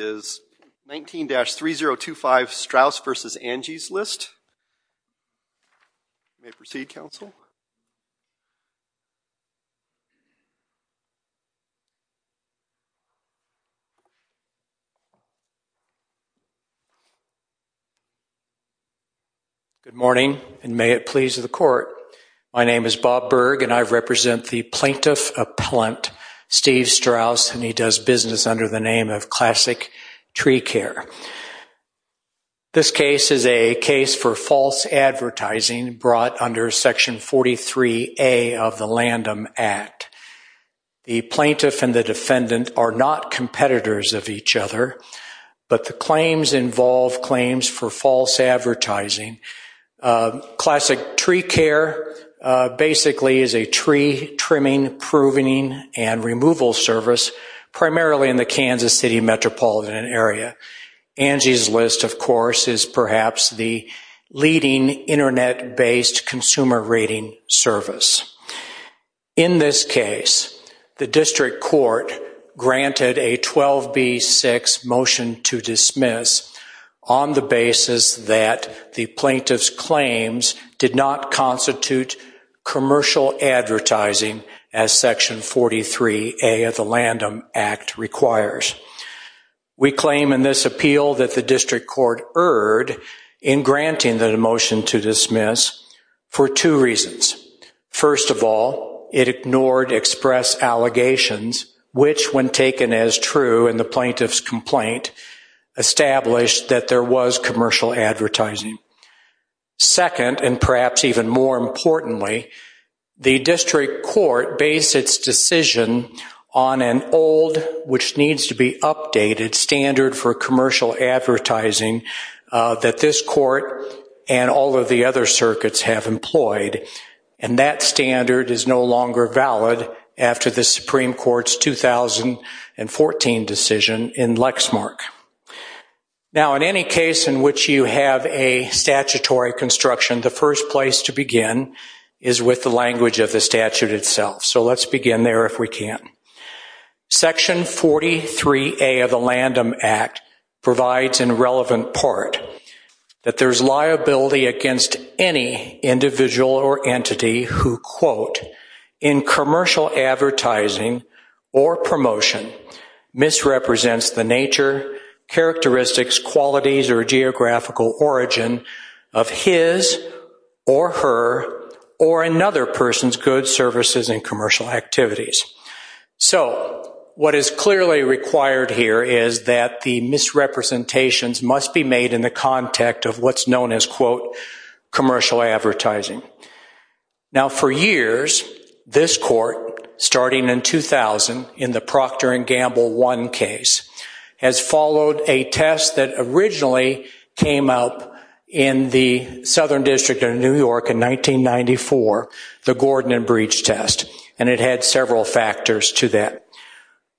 is 19-3025 Strauss v. Angie's List. May I proceed, counsel? Good morning, and may it please the court. My name is Bob Berg, and I represent the Plaintiff Appellant, Steve Strauss, and he does business under the name of Classic Tree Care. This case is a case for false advertising brought under Section 43A of the LANDM Act. The plaintiff and the defendant are not competitors of each other, but the claims involve claims for false advertising. Classic Tree Care basically is a tree trimming, proving, and removal service primarily in the Kansas City metropolitan area. Angie's List, of course, is perhaps the leading Internet-based consumer rating service. In this case, the district court granted a 12B6 motion to dismiss on the basis that the plaintiff's claims did not constitute commercial advertising as Section 43A of the LANDM Act requires. We claim in this appeal that the district court erred in granting the motion to dismiss for two reasons. First of all, it ignored express allegations, which, when taken as true in the plaintiff's complaint, established that there was commercial advertising. Second, and perhaps even more importantly, the district court based its decision on an old, which needs to be updated, standard for commercial advertising that this court and all of the other circuits have employed, and that standard is no longer valid after the Supreme Court's 2014 decision in Lexmark. Now, in any case in which you have a statutory construction, the first place to begin is with the language of the statute itself. So let's begin there if we can. Section 43A of the LANDM Act provides, in relevant part, that there's liability against any individual or entity who, quote, in commercial advertising or promotion, misrepresents the nature, characteristics, qualities, or geographical origin of his or her or another person's goods, services, and commercial activities. So what is clearly required here is that the misrepresentations must be made in the context of what's known as, quote, commercial advertising. Now, for years, this court, starting in 2000 in the Procter & Gamble I case, has followed a test that originally came up in the Southern District of New York in 1994, the Gordon and Breach Test, and it had several factors to that.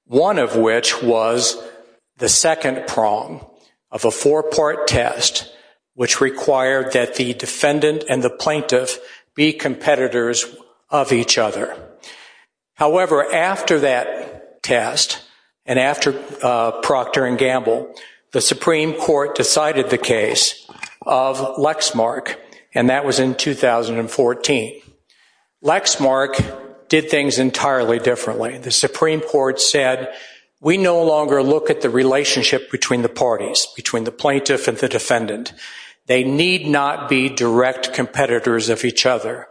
One of which was the second prong of a four-part test which required that the defendant and the plaintiff be competitors of each other. However, after that test and after Procter & Gamble, the Supreme Court decided the case of Lexmark, and that was in 2014. Lexmark did things entirely differently. The Supreme Court said, we no longer look at the relationship between the parties, between the plaintiff and the defendant. They need not be direct competitors of each other.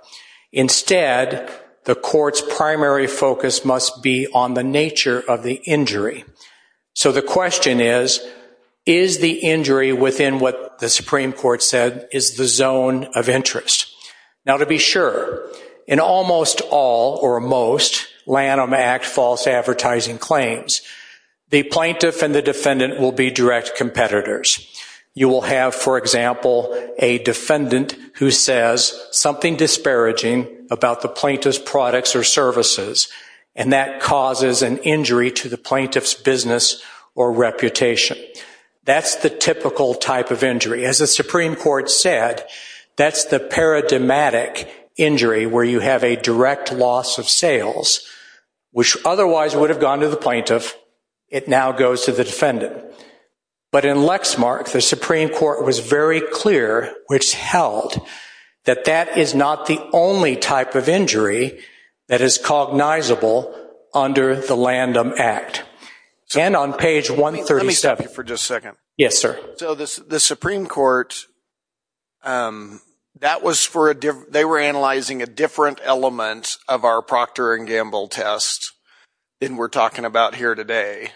Instead, the court's primary focus must be on the nature of the injury. So the question is, is the injury within what the Supreme Court said is the zone of interest? Now, to be sure, in almost all or most Lanham Act false advertising claims, the plaintiff and the defendant will be direct competitors. You will have, for example, a defendant who says something disparaging about the plaintiff's products or services, and that causes an injury to the plaintiff's business or reputation. That's the typical type of injury. As the Supreme Court said, that's the paradigmatic injury, where you have a direct loss of sales, which otherwise would have gone to the plaintiff. It now goes to the defendant. But in Lexmark, the Supreme Court was very clear, which held, that that is not the only type of injury that is cognizable under the Lanham Act. And on page 137... Let me stop you for just a second. Yes, sir. So the Supreme Court, they were analyzing a different element of our Procter & Gamble test than we're talking about here today.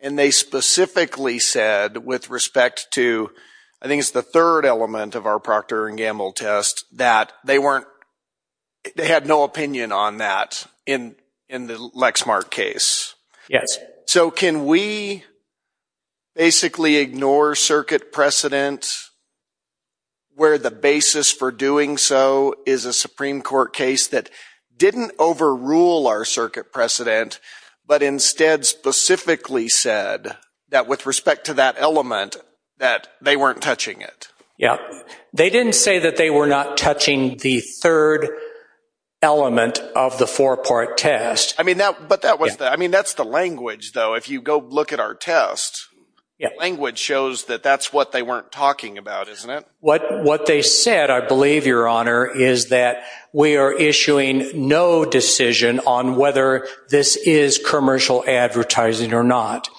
And they specifically said, with respect to, I think it's the third element of our Procter & Gamble test, that they had no opinion on that in the Lexmark case. Yes. So can we basically ignore circuit precedent, where the basis for doing so is a Supreme Court case that didn't overrule our circuit precedent, but instead specifically said, that with respect to that element, that they weren't touching it? Yeah. They didn't say that they were not touching the third element of the four-part test. But that's the language, though. If you go look at our test, the language shows that that's what they weren't talking about, isn't it? What they said, I believe, Your Honor, is that we are issuing no decision on whether this is commercial advertising or not.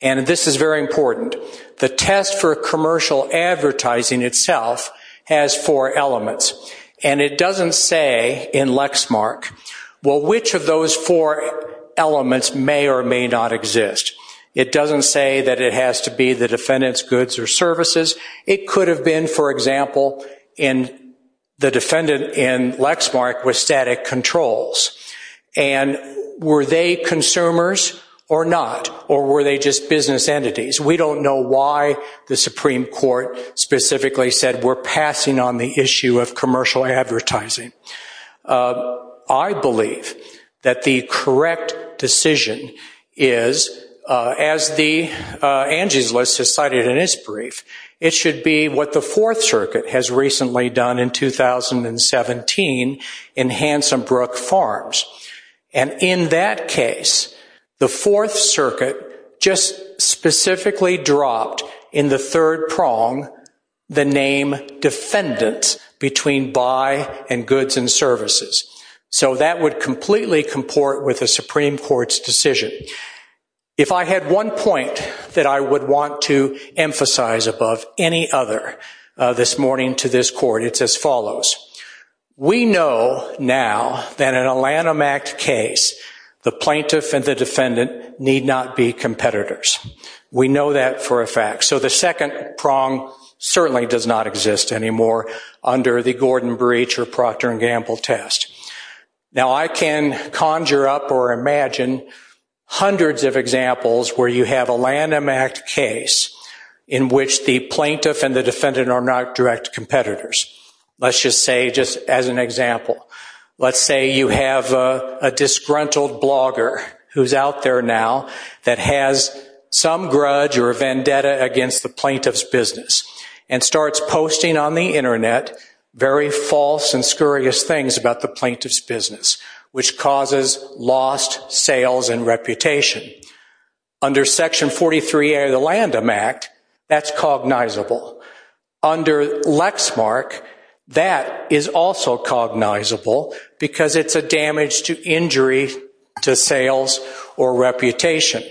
And this is very important. The test for commercial advertising itself has four elements. And it doesn't say in Lexmark, well, which of those four elements may or may not exist. It doesn't say that it has to be the defendant's goods or services. It could have been, for example, in the defendant in Lexmark with static controls. And were they consumers or not? Or were they just business entities? We don't know why the Supreme Court specifically said, we're passing on the issue of commercial advertising. I believe that the correct decision is, as Angie's List has cited in its brief, it should be what the Fourth Circuit has recently done in 2017 in Hansenbrook Farms. And in that case, the Fourth Circuit just specifically dropped in the third prong the name defendants between buy and goods and services. So that would completely comport with the Supreme Court's decision. If I had one point that I would want to emphasize above any other this morning to this court, it's as follows. We know now that in a Lanham Act case, the plaintiff and the defendant need not be competitors. We know that for a fact. So the second prong certainly does not exist anymore under the Gordon breach or Procter and Gamble test. Now, I can conjure up or imagine hundreds of examples where you have a Lanham Act case in which the plaintiff and the defendant are not direct competitors. Let's just say, just as an example, let's say you have a disgruntled blogger who's out there now that has some grudge or a vendetta against the plaintiff's business and starts posting on the internet very false and scurrious things about the plaintiff's business, which causes lost sales and reputation. Under Section 43 of the Lanham Act, that's cognizable. Under Lexmark, that is also cognizable because it's a damage to injury, to sales, or reputation.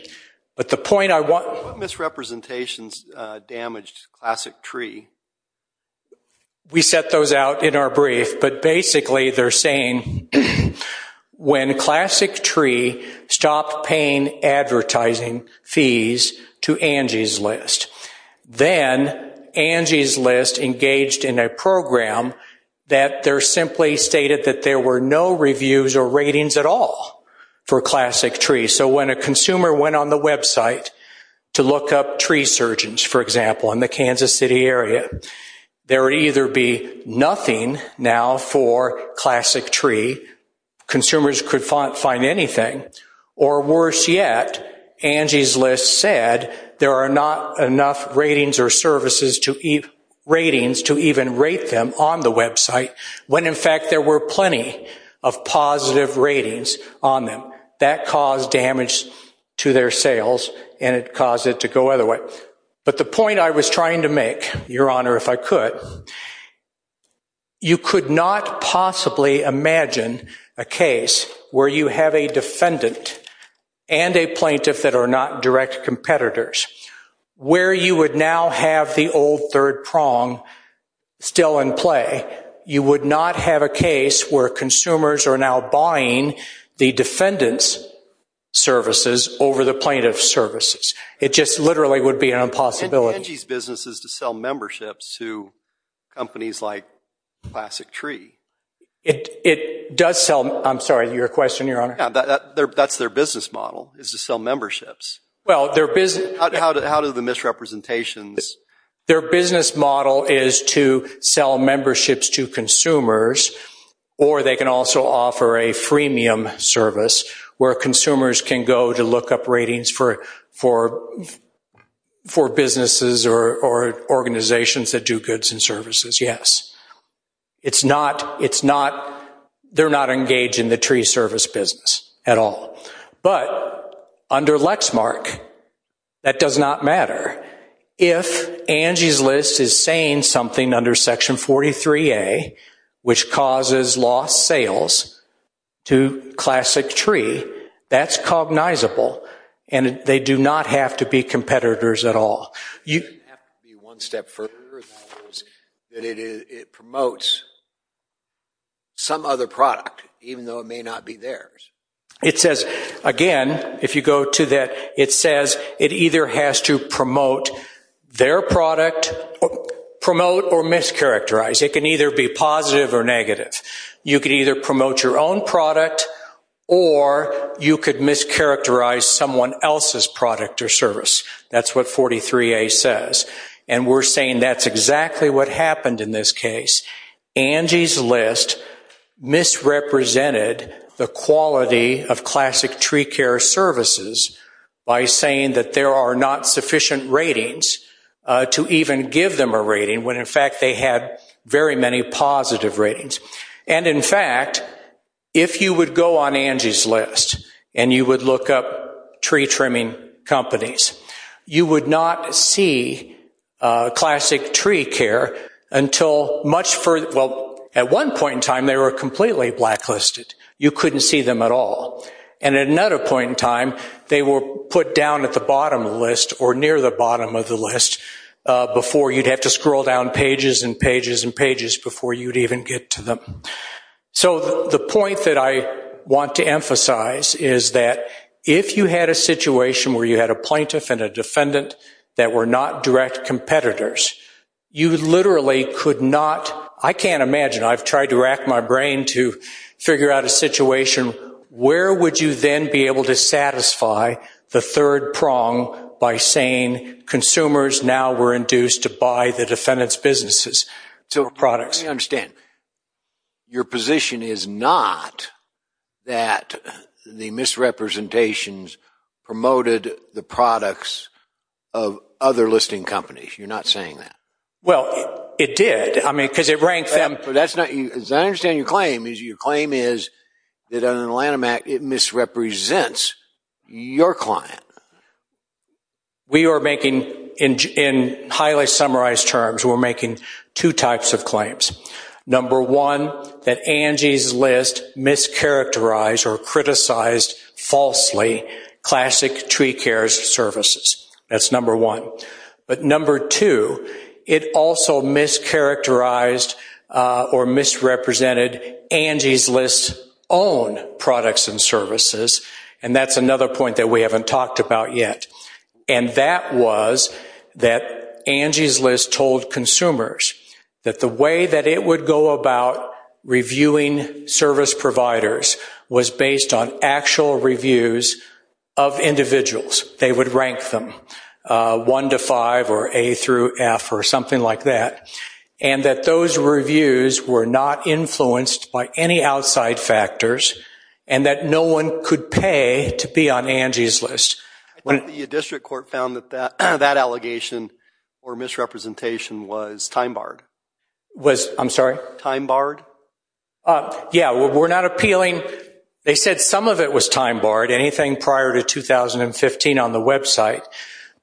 But the point I want... What misrepresentations damaged Classic Tree? We set those out in our brief, but basically they're saying when Classic Tree stopped paying advertising fees to Angie's List, then Angie's List engaged in a program that there simply stated that there were no reviews or ratings at all for Classic Tree. So when a consumer went on the website to look up tree surgeons, for example, in the Kansas City area, there would either be nothing now for Classic Tree, consumers could find anything, or worse yet, Angie's List said there are not enough ratings or services to even rate them on the website, when in fact there were plenty of positive ratings on them. That caused damage to their sales and it caused it to go other way. But the point I was trying to make, Your Honor, if I could, you could not possibly imagine a case where you have a defendant and a plaintiff that are not direct competitors, where you would now have the old third prong still in play. You would not have a case where consumers are now buying the defendant's services over the plaintiff's services. It just literally would be an impossibility. And Angie's business is to sell memberships to companies like Classic Tree. It does sell, I'm sorry, your question, Your Honor? Yeah, that's their business model, is to sell memberships. Well, their business... How do the misrepresentations... Their business model is to sell memberships to consumers or they can also offer a freemium service where consumers can go to look up ratings for businesses or organizations that do goods and services, yes. They're not engaged in the tree service business at all. But under Lexmark, that does not matter. If Angie's List is saying something under Section 43A, which causes lost sales to Classic Tree, that's cognizable and they do not have to be competitors at all. It doesn't have to be one step further than it is it promotes some other product, even though it may not be theirs. It says, again, if you go to that, it says it either has to promote their product, promote or mischaracterize. It can either be positive or negative. You could either promote your own product or you could mischaracterize someone else's product or service. That's what 43A says. And we're saying that's exactly what happened in this case. Angie's List misrepresented the quality of Classic Tree Care services by saying that there are not sufficient ratings to even give them a rating when in fact they had very many positive ratings. And in fact, if you would go on Angie's List and you would look up tree trimming companies, you would not see Classic Tree Care until much further. Well, at one point in time, they were completely blacklisted. You couldn't see them at all. And at another point in time, they were put down at the bottom of the list or near the bottom of the list before you'd have to scroll down pages and pages and pages before you'd even get to them. So the point that I want to emphasize is that if you had a situation where you had a plaintiff and a defendant that were not direct competitors, you literally could not, I can't imagine, I've tried to rack my brain to figure out a situation, where would you then be able to satisfy the third prong by saying consumers now were induced to buy the defendant's businesses or products? Let me understand. Your position is not that the misrepresentations promoted the products of other listing companies. You're not saying that. Well, it did. I mean, because it ranked them. As I understand your claim, your claim is that on the Lanham Act, it misrepresents your client. We are making, in highly summarized terms, we're making two types of claims. Number one, that Angie's list mischaracterized or criticized falsely classic tree care services. That's number one. But number two, it also mischaracterized or misrepresented Angie's list's own products and services. And that's another point that we haven't talked about yet. And that was that Angie's list told consumers that the way that it would go about reviewing service providers was based on actual reviews of individuals. They would rank them one to five or A through F or something like that. And that those reviews were not influenced by any outside factors and that no one could pay to be on Angie's list. I think the district court found that that allegation or misrepresentation was time-barred. Was, I'm sorry? Time-barred? Yeah, we're not appealing. They said some of it was time-barred, anything prior to 2015 on the website.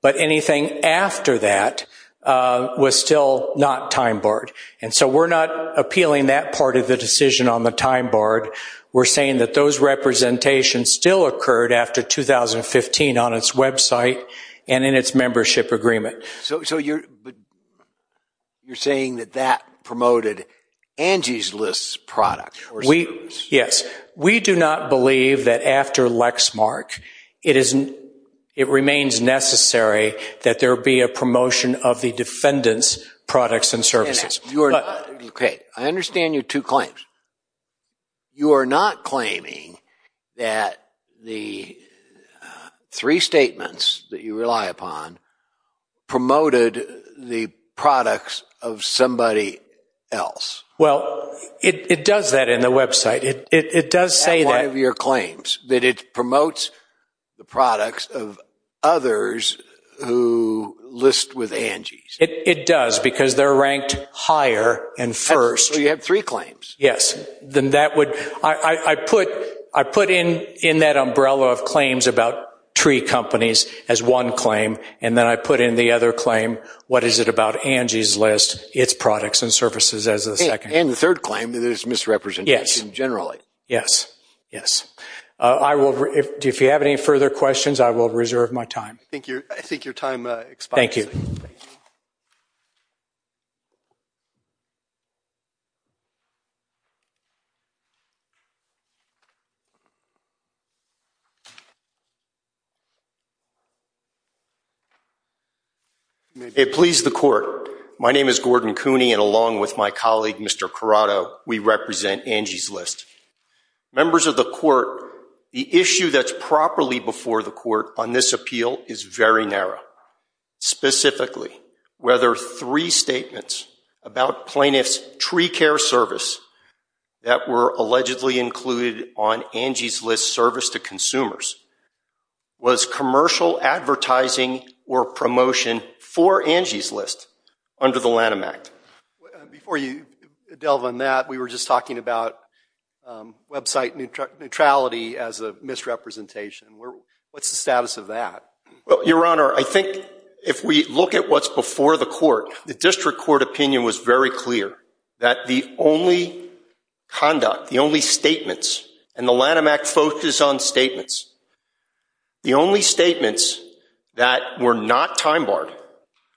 But anything after that was still not time-barred. And so we're not appealing that part of the decision on the time-barred. We're saying that those representations still occurred after 2015 on its website and in its membership agreement. So you're saying that that promoted Angie's list's product? Yes. We do not believe that after Lexmark it remains necessary that there be a promotion of the defendant's products and services. You are not, okay, I understand your two claims. You are not claiming that the three statements that you rely upon promoted the products of somebody else. Well, it does that in the website. It does say that. That it promotes the products of others who list with Angie's. It does, because they're ranked higher and first. So you have three claims. Yes, then that would, I put in that umbrella of claims about three companies as one claim, and then I put in the other claim, what is it about Angie's list, its products and services as the second. And the third claim that it's misrepresentation generally. Yes, yes. I will, if you have any further questions, I will reserve my time. Thank you. I think your time expires. Thank you. It pleased the court. My name is Gordon Cooney, and along with my colleague, Mr. Corrado, we represent Angie's List. Members of the court, the issue that's properly before the court on this appeal is very narrow. Specifically, whether three statements about plaintiff's tree care service that were allegedly included on Angie's List service to consumers was commercial advertising or promotion for Angie's List under the Lanham Act. Before you delve on that, we were just talking about website neutrality as a misrepresentation. What's the status of that? Well, your honor, I think if we look at what's before the court, the district court opinion was very clear that the only conduct, the only statements, and the Lanham Act focuses on statements. The only statements that were not time barred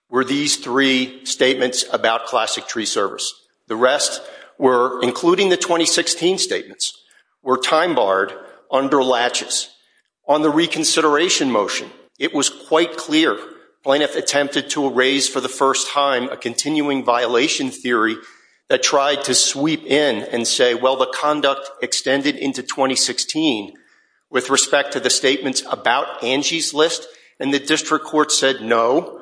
were these three statements about classic tree service. The rest were, including the 2016 statements, were time barred under latches. On the reconsideration motion, it was quite clear plaintiff attempted to erase for the first time a continuing violation theory that tried to sweep in and say, well, the conduct extended into 2016 with respect to the statements about Angie's List, and the district court said no.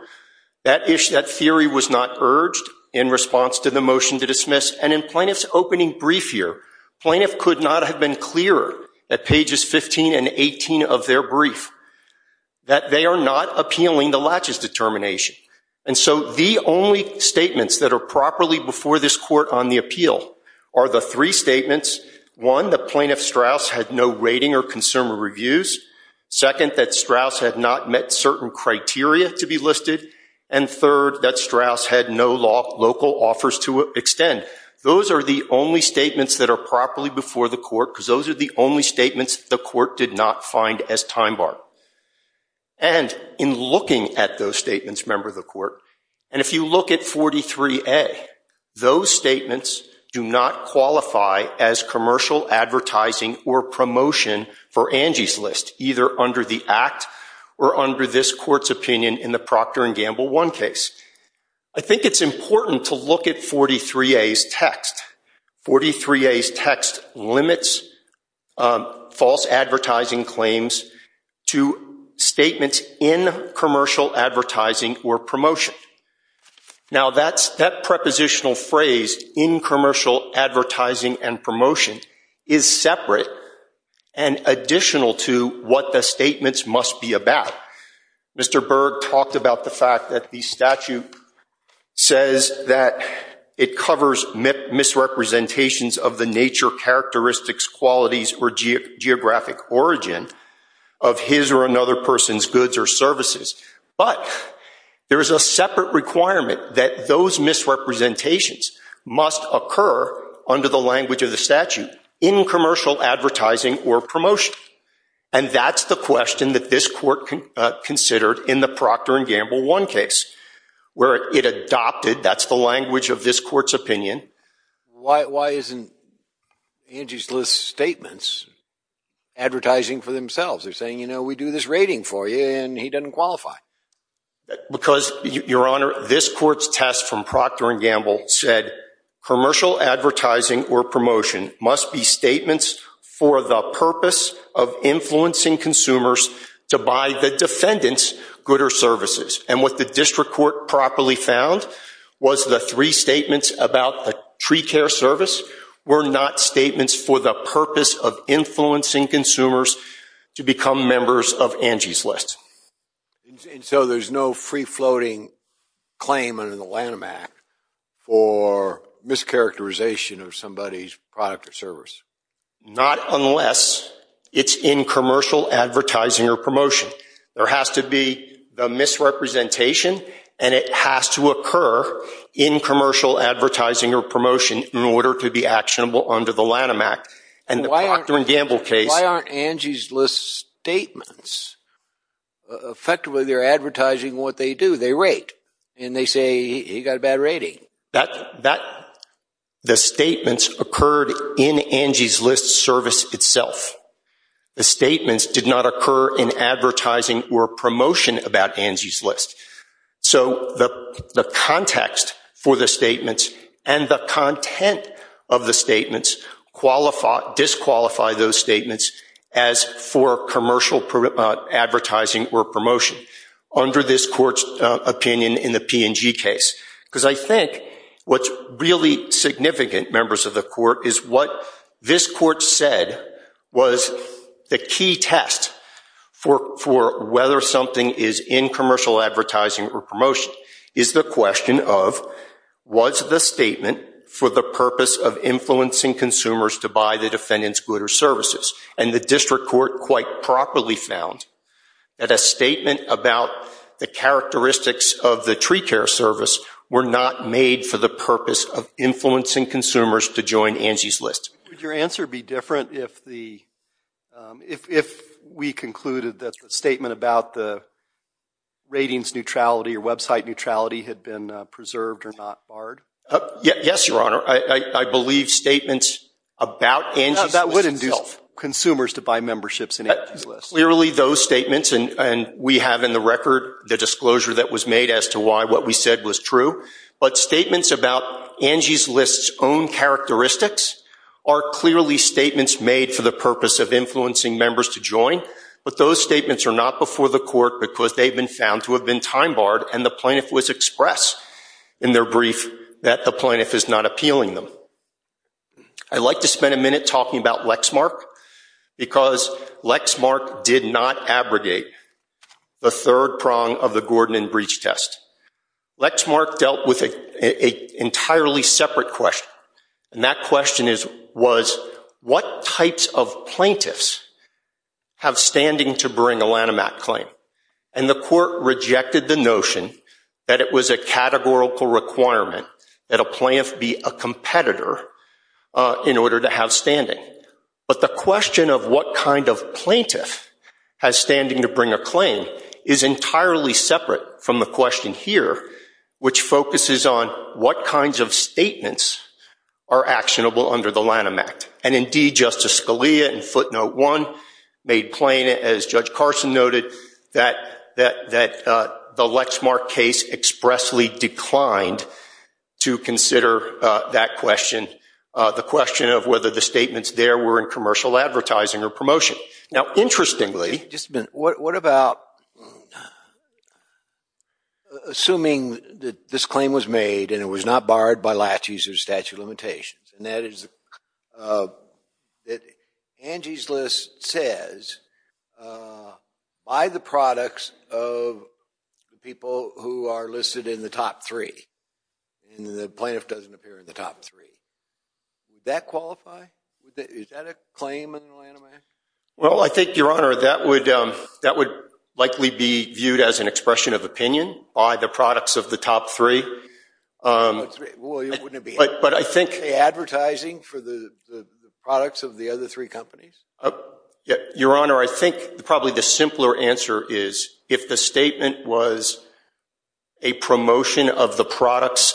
That theory was not urged in response to the motion to dismiss, and in plaintiff's opening brief here, plaintiff could not have been clearer at pages 15 and 18 of their brief that they are not appealing the latches determination. And so the only statements that are properly before this court on the appeal are the three statements. One, the plaintiff Strauss had no rating or consumer reviews. Second, that Strauss had not met certain criteria to be listed. And third, that Strauss had no local offers to extend. Those are the only statements that are properly before the court because those are the only statements the court did not find as time barred. And in looking at those statements, remember the court, and if you look at 43A, as commercial advertising or promotion for Angie's List, either under the act or under this court's opinion in the Procter & Gamble 1 case, I think it's important to look at 43A's text. 43A's text limits false advertising claims to statements in commercial advertising or promotion. Now, that prepositional phrase in commercial advertising and promotion is separate and additional to what the statements must be about. Mr. Berg talked about the fact that the statute says that it covers misrepresentations of the nature, characteristics, qualities, or geographic origin of his or another person's goods or services. But there is a separate requirement that those misrepresentations must occur under the language of the statute in commercial advertising or promotion. And that's the question that this court considered in the Procter & Gamble 1 case, where it adopted, that's the language of this court's opinion. Why isn't Angie's List's statements advertising for themselves? They're saying, you know, we do this rating for you and he doesn't qualify. Because, Your Honor, this court's test from Procter & Gamble said commercial advertising or promotion must be statements for the purpose of influencing consumers to buy the defendant's goods or services. And what the district court properly found was the three statements about the tree care service were not statements for the purpose of influencing consumers to become members of Angie's List. And so there's no free-floating claim under the Lanham Act for mischaracterization of somebody's product or service? Not unless it's in commercial advertising or promotion. There has to be the misrepresentation and it has to occur in commercial advertising or promotion in order to be actionable under the Lanham Act. And the Procter & Gamble case... Why aren't Angie's List's statements? Effectively, they're advertising what they do, they rate. And they say, he got a bad rating. The statements occurred in Angie's List service itself. The statements did not occur in advertising or promotion about Angie's List. So the context for the statements and the content of the statements disqualify those statements as for commercial advertising or promotion under this court's opinion in the P&G case. Because I think what's really significant, members of the court, what this court said was the key test for whether something is in commercial advertising or promotion is the question of, was the statement for the purpose of influencing consumers to buy the defendant's good or services? And the district court quite properly found that a statement about the characteristics of the tree care service were not made for the purpose of influencing consumers to join Angie's List. Would your answer be different if we concluded that the statement about the ratings neutrality or website neutrality had been preserved or not barred? Yes, Your Honor. I believe statements about Angie's List itself. That would induce consumers to buy memberships in Angie's List. Clearly, those statements and we have in the record the disclosure that was made as to why what we said was true. But statements about Angie's List's own characteristics are clearly statements made for the purpose of influencing members to join. But those statements are not before the court because they've been found to have been time barred. And the plaintiff was expressed in their brief that the plaintiff is not appealing them. I'd like to spend a minute talking about Lexmark because Lexmark did not abrogate the third prong of the Gordon and Breach test. Lexmark dealt with an entirely separate question. And that question was, what types of plaintiffs have standing to bring a Lanham Act claim? And the court rejected the notion that it was a categorical requirement that a plaintiff be a competitor in order to have standing. But the question of what kind of plaintiff has standing to bring a claim is entirely separate from the question here, which focuses on what kinds of statements are actionable under the Lanham Act. And indeed, Justice Scalia in footnote one made plain, as Judge Carson noted, that the Lexmark case expressly declined to consider that question, the question of whether the statements there were in commercial advertising or promotion. Now, interestingly- Just a minute. What about assuming that this claim was made and it was not barred by latches or statute of limitations? And that is that Angie's list says, by the products of the people who are listed in the top three and the plaintiff doesn't appear in the top three, Is that a claim in the Lanham Act? Well, I think, Your Honor, that would likely be viewed as an expression of opinion by the products of the top three. But I think- Advertising for the products of the other three companies? Your Honor, I think probably the simpler answer is if the statement was a promotion of the products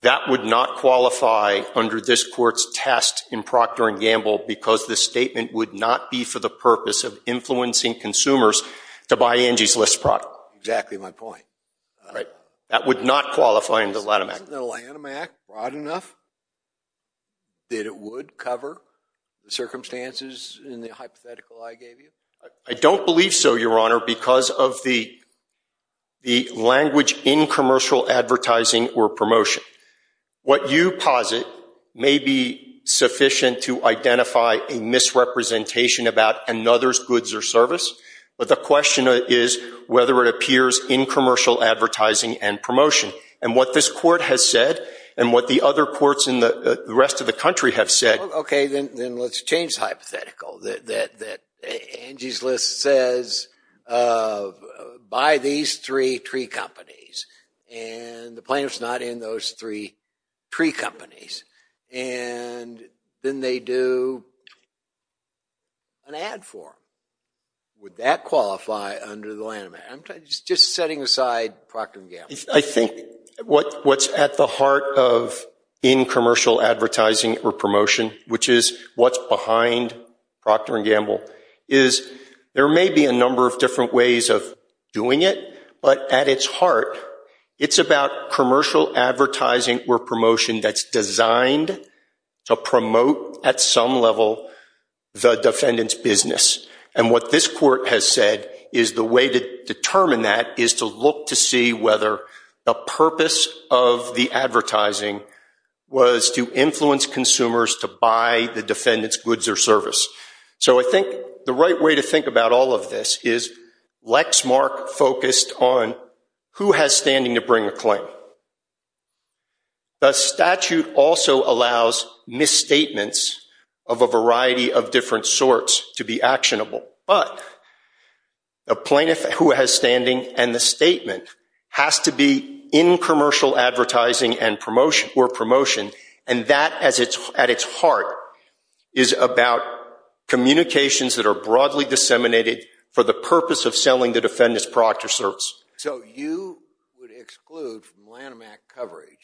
that would not qualify under this court's test in Procter & Gamble because the statement would not be for the purpose of influencing consumers to buy Angie's List product. Exactly my point. That would not qualify in the Lanham Act. Isn't the Lanham Act broad enough that it would cover the circumstances in the hypothetical I gave you? I don't believe so, Your Honor, because of the language in commercial advertising or promotion. What you posit may be sufficient to identify a misrepresentation about another's goods or service, but the question is whether it appears in commercial advertising and promotion. And what this court has said and what the other courts in the rest of the country have said- Okay, then let's change the hypothetical that Angie's List says buy these three tree companies and the plaintiff's not in those three tree companies. And then they do an ad for them. Would that qualify under the Lanham Act? I'm just setting aside Procter & Gamble. I think what's at the heart of in commercial advertising or promotion, which is what's behind Procter & Gamble, is there may be a number of different ways of doing it, but at its heart, it's about commercial advertising or promotion that's designed to promote at some level the defendant's business. And what this court has said is the way to determine that is to look to see whether the purpose of the advertising was to influence consumers to buy the defendant's goods or service. So I think the right way to think about all of this is Lexmark focused on who has standing to bring a claim. The statute also allows misstatements of a variety of different sorts to be actionable. But a plaintiff who has standing and the statement has to be in commercial advertising or promotion, and that at its heart is about communications that are broadly disseminated for the purpose of selling the defendant's product or service. So you would exclude from Lanham Act coverage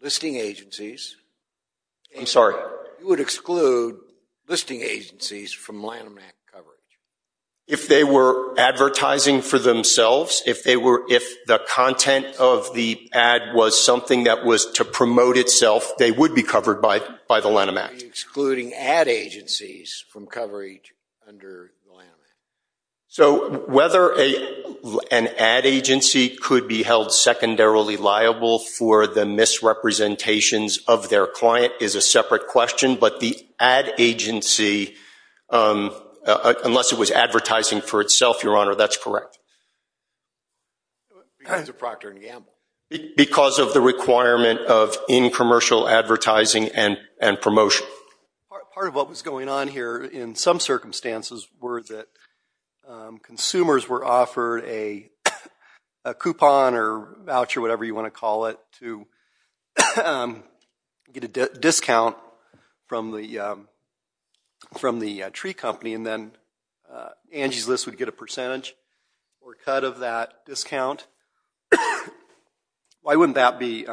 listing agencies. I'm sorry. You would exclude listing agencies from Lanham Act coverage. If they were advertising for themselves, if they were, if the content of the ad was something that was to promote itself, they would be covered by the Lanham Act. Excluding ad agencies from coverage under the Lanham Act. So whether an ad agency could be held secondarily liable for the misrepresentations of their client is a separate question. But the ad agency, unless it was advertising for itself, Your Honor, that's correct. Because of the requirement of in commercial advertising and promotion. Part of what was going on here in some circumstances were that consumers were offered a coupon or voucher, whatever you want to call it, to get a discount from the tree company. And then Angie's List would get a percentage or cut of that discount. Why wouldn't that be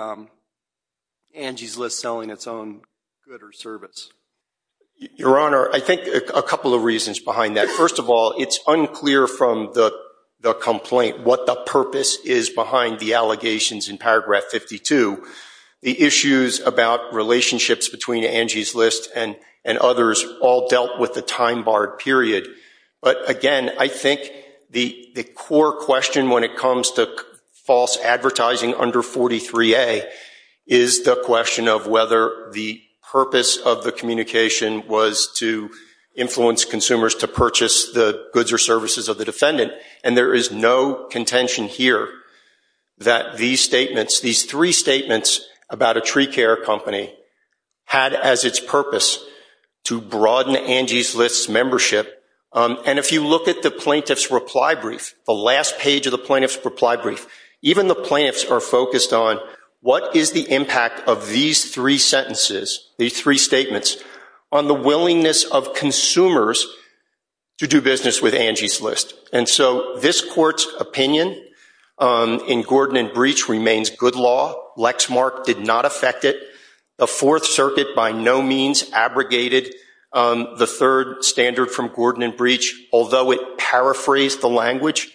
Angie's List selling its own good or service? Your Honor, I think a couple of reasons behind that. First of all, it's unclear from the complaint what the purpose is behind the allegations in paragraph 52. The issues about relationships between Angie's List and others all dealt with the time barred period. But again, I think the core question when it comes to false advertising under 43A is the question of whether the purpose of the communication was to influence consumers to purchase the goods or services of the defendant. And there is no contention here that these statements, these three statements about a tree care company had as its purpose to broaden Angie's List's membership. And if you look at the plaintiff's reply brief, the last page of the plaintiff's reply brief, even the plaintiffs are focused on what is the impact of these three sentences, these three statements, on the willingness of consumers to do business with Angie's List. And so this court's opinion in Gordon and Breach remains good law. Lexmark did not affect it. The Fourth Circuit by no means abrogated the third standard from Gordon and Breach. Although it paraphrased the language,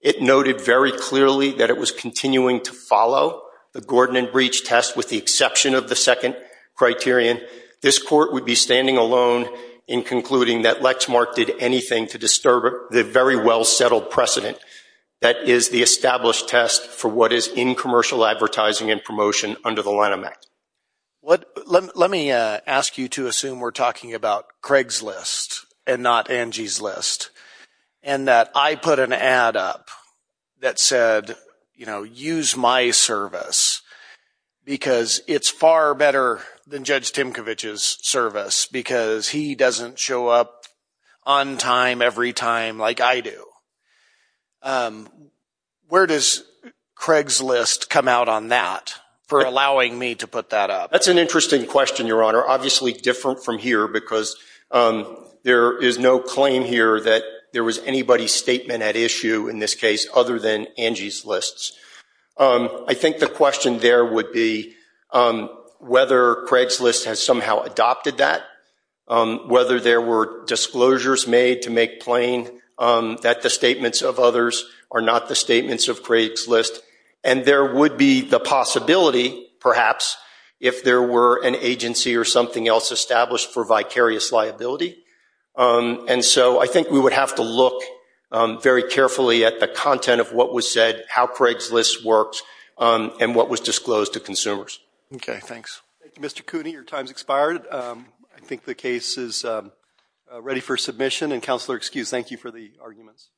it noted very clearly that it was continuing to follow the Gordon and Breach test with the exception of the second criterion. This court would be standing alone in concluding that Lexmark did anything to disturb the very well-settled precedent that is the established test for what is in commercial advertising and promotion under the line of Mac. Let me ask you to assume we're talking about Craig's List and not Angie's List and that I put an ad up that said, you know, use my service because it's far better than Judge Timkovich's service because he doesn't show up on time every time like I do. Where does Craig's List come out on that for allowing me to put that up? That's an interesting question, Your Honor. Obviously different from here because there is no claim here that there was anybody's statement at issue in this case other than Angie's List. I think the question there would be whether Craig's List has somehow adopted that, whether there were disclosures made to make plain that the statements of others are not the statements of Craig's List and there would be the possibility, perhaps, if there were an agency or something else established for vicarious liability. And so I think we would have to look very carefully at the content of what was said, how Craig's List works, and what was disclosed to consumers. Okay, thanks. Mr. Cooney, your time's expired. I think the case is ready for submission and Counselor, excuse, thank you for the arguments.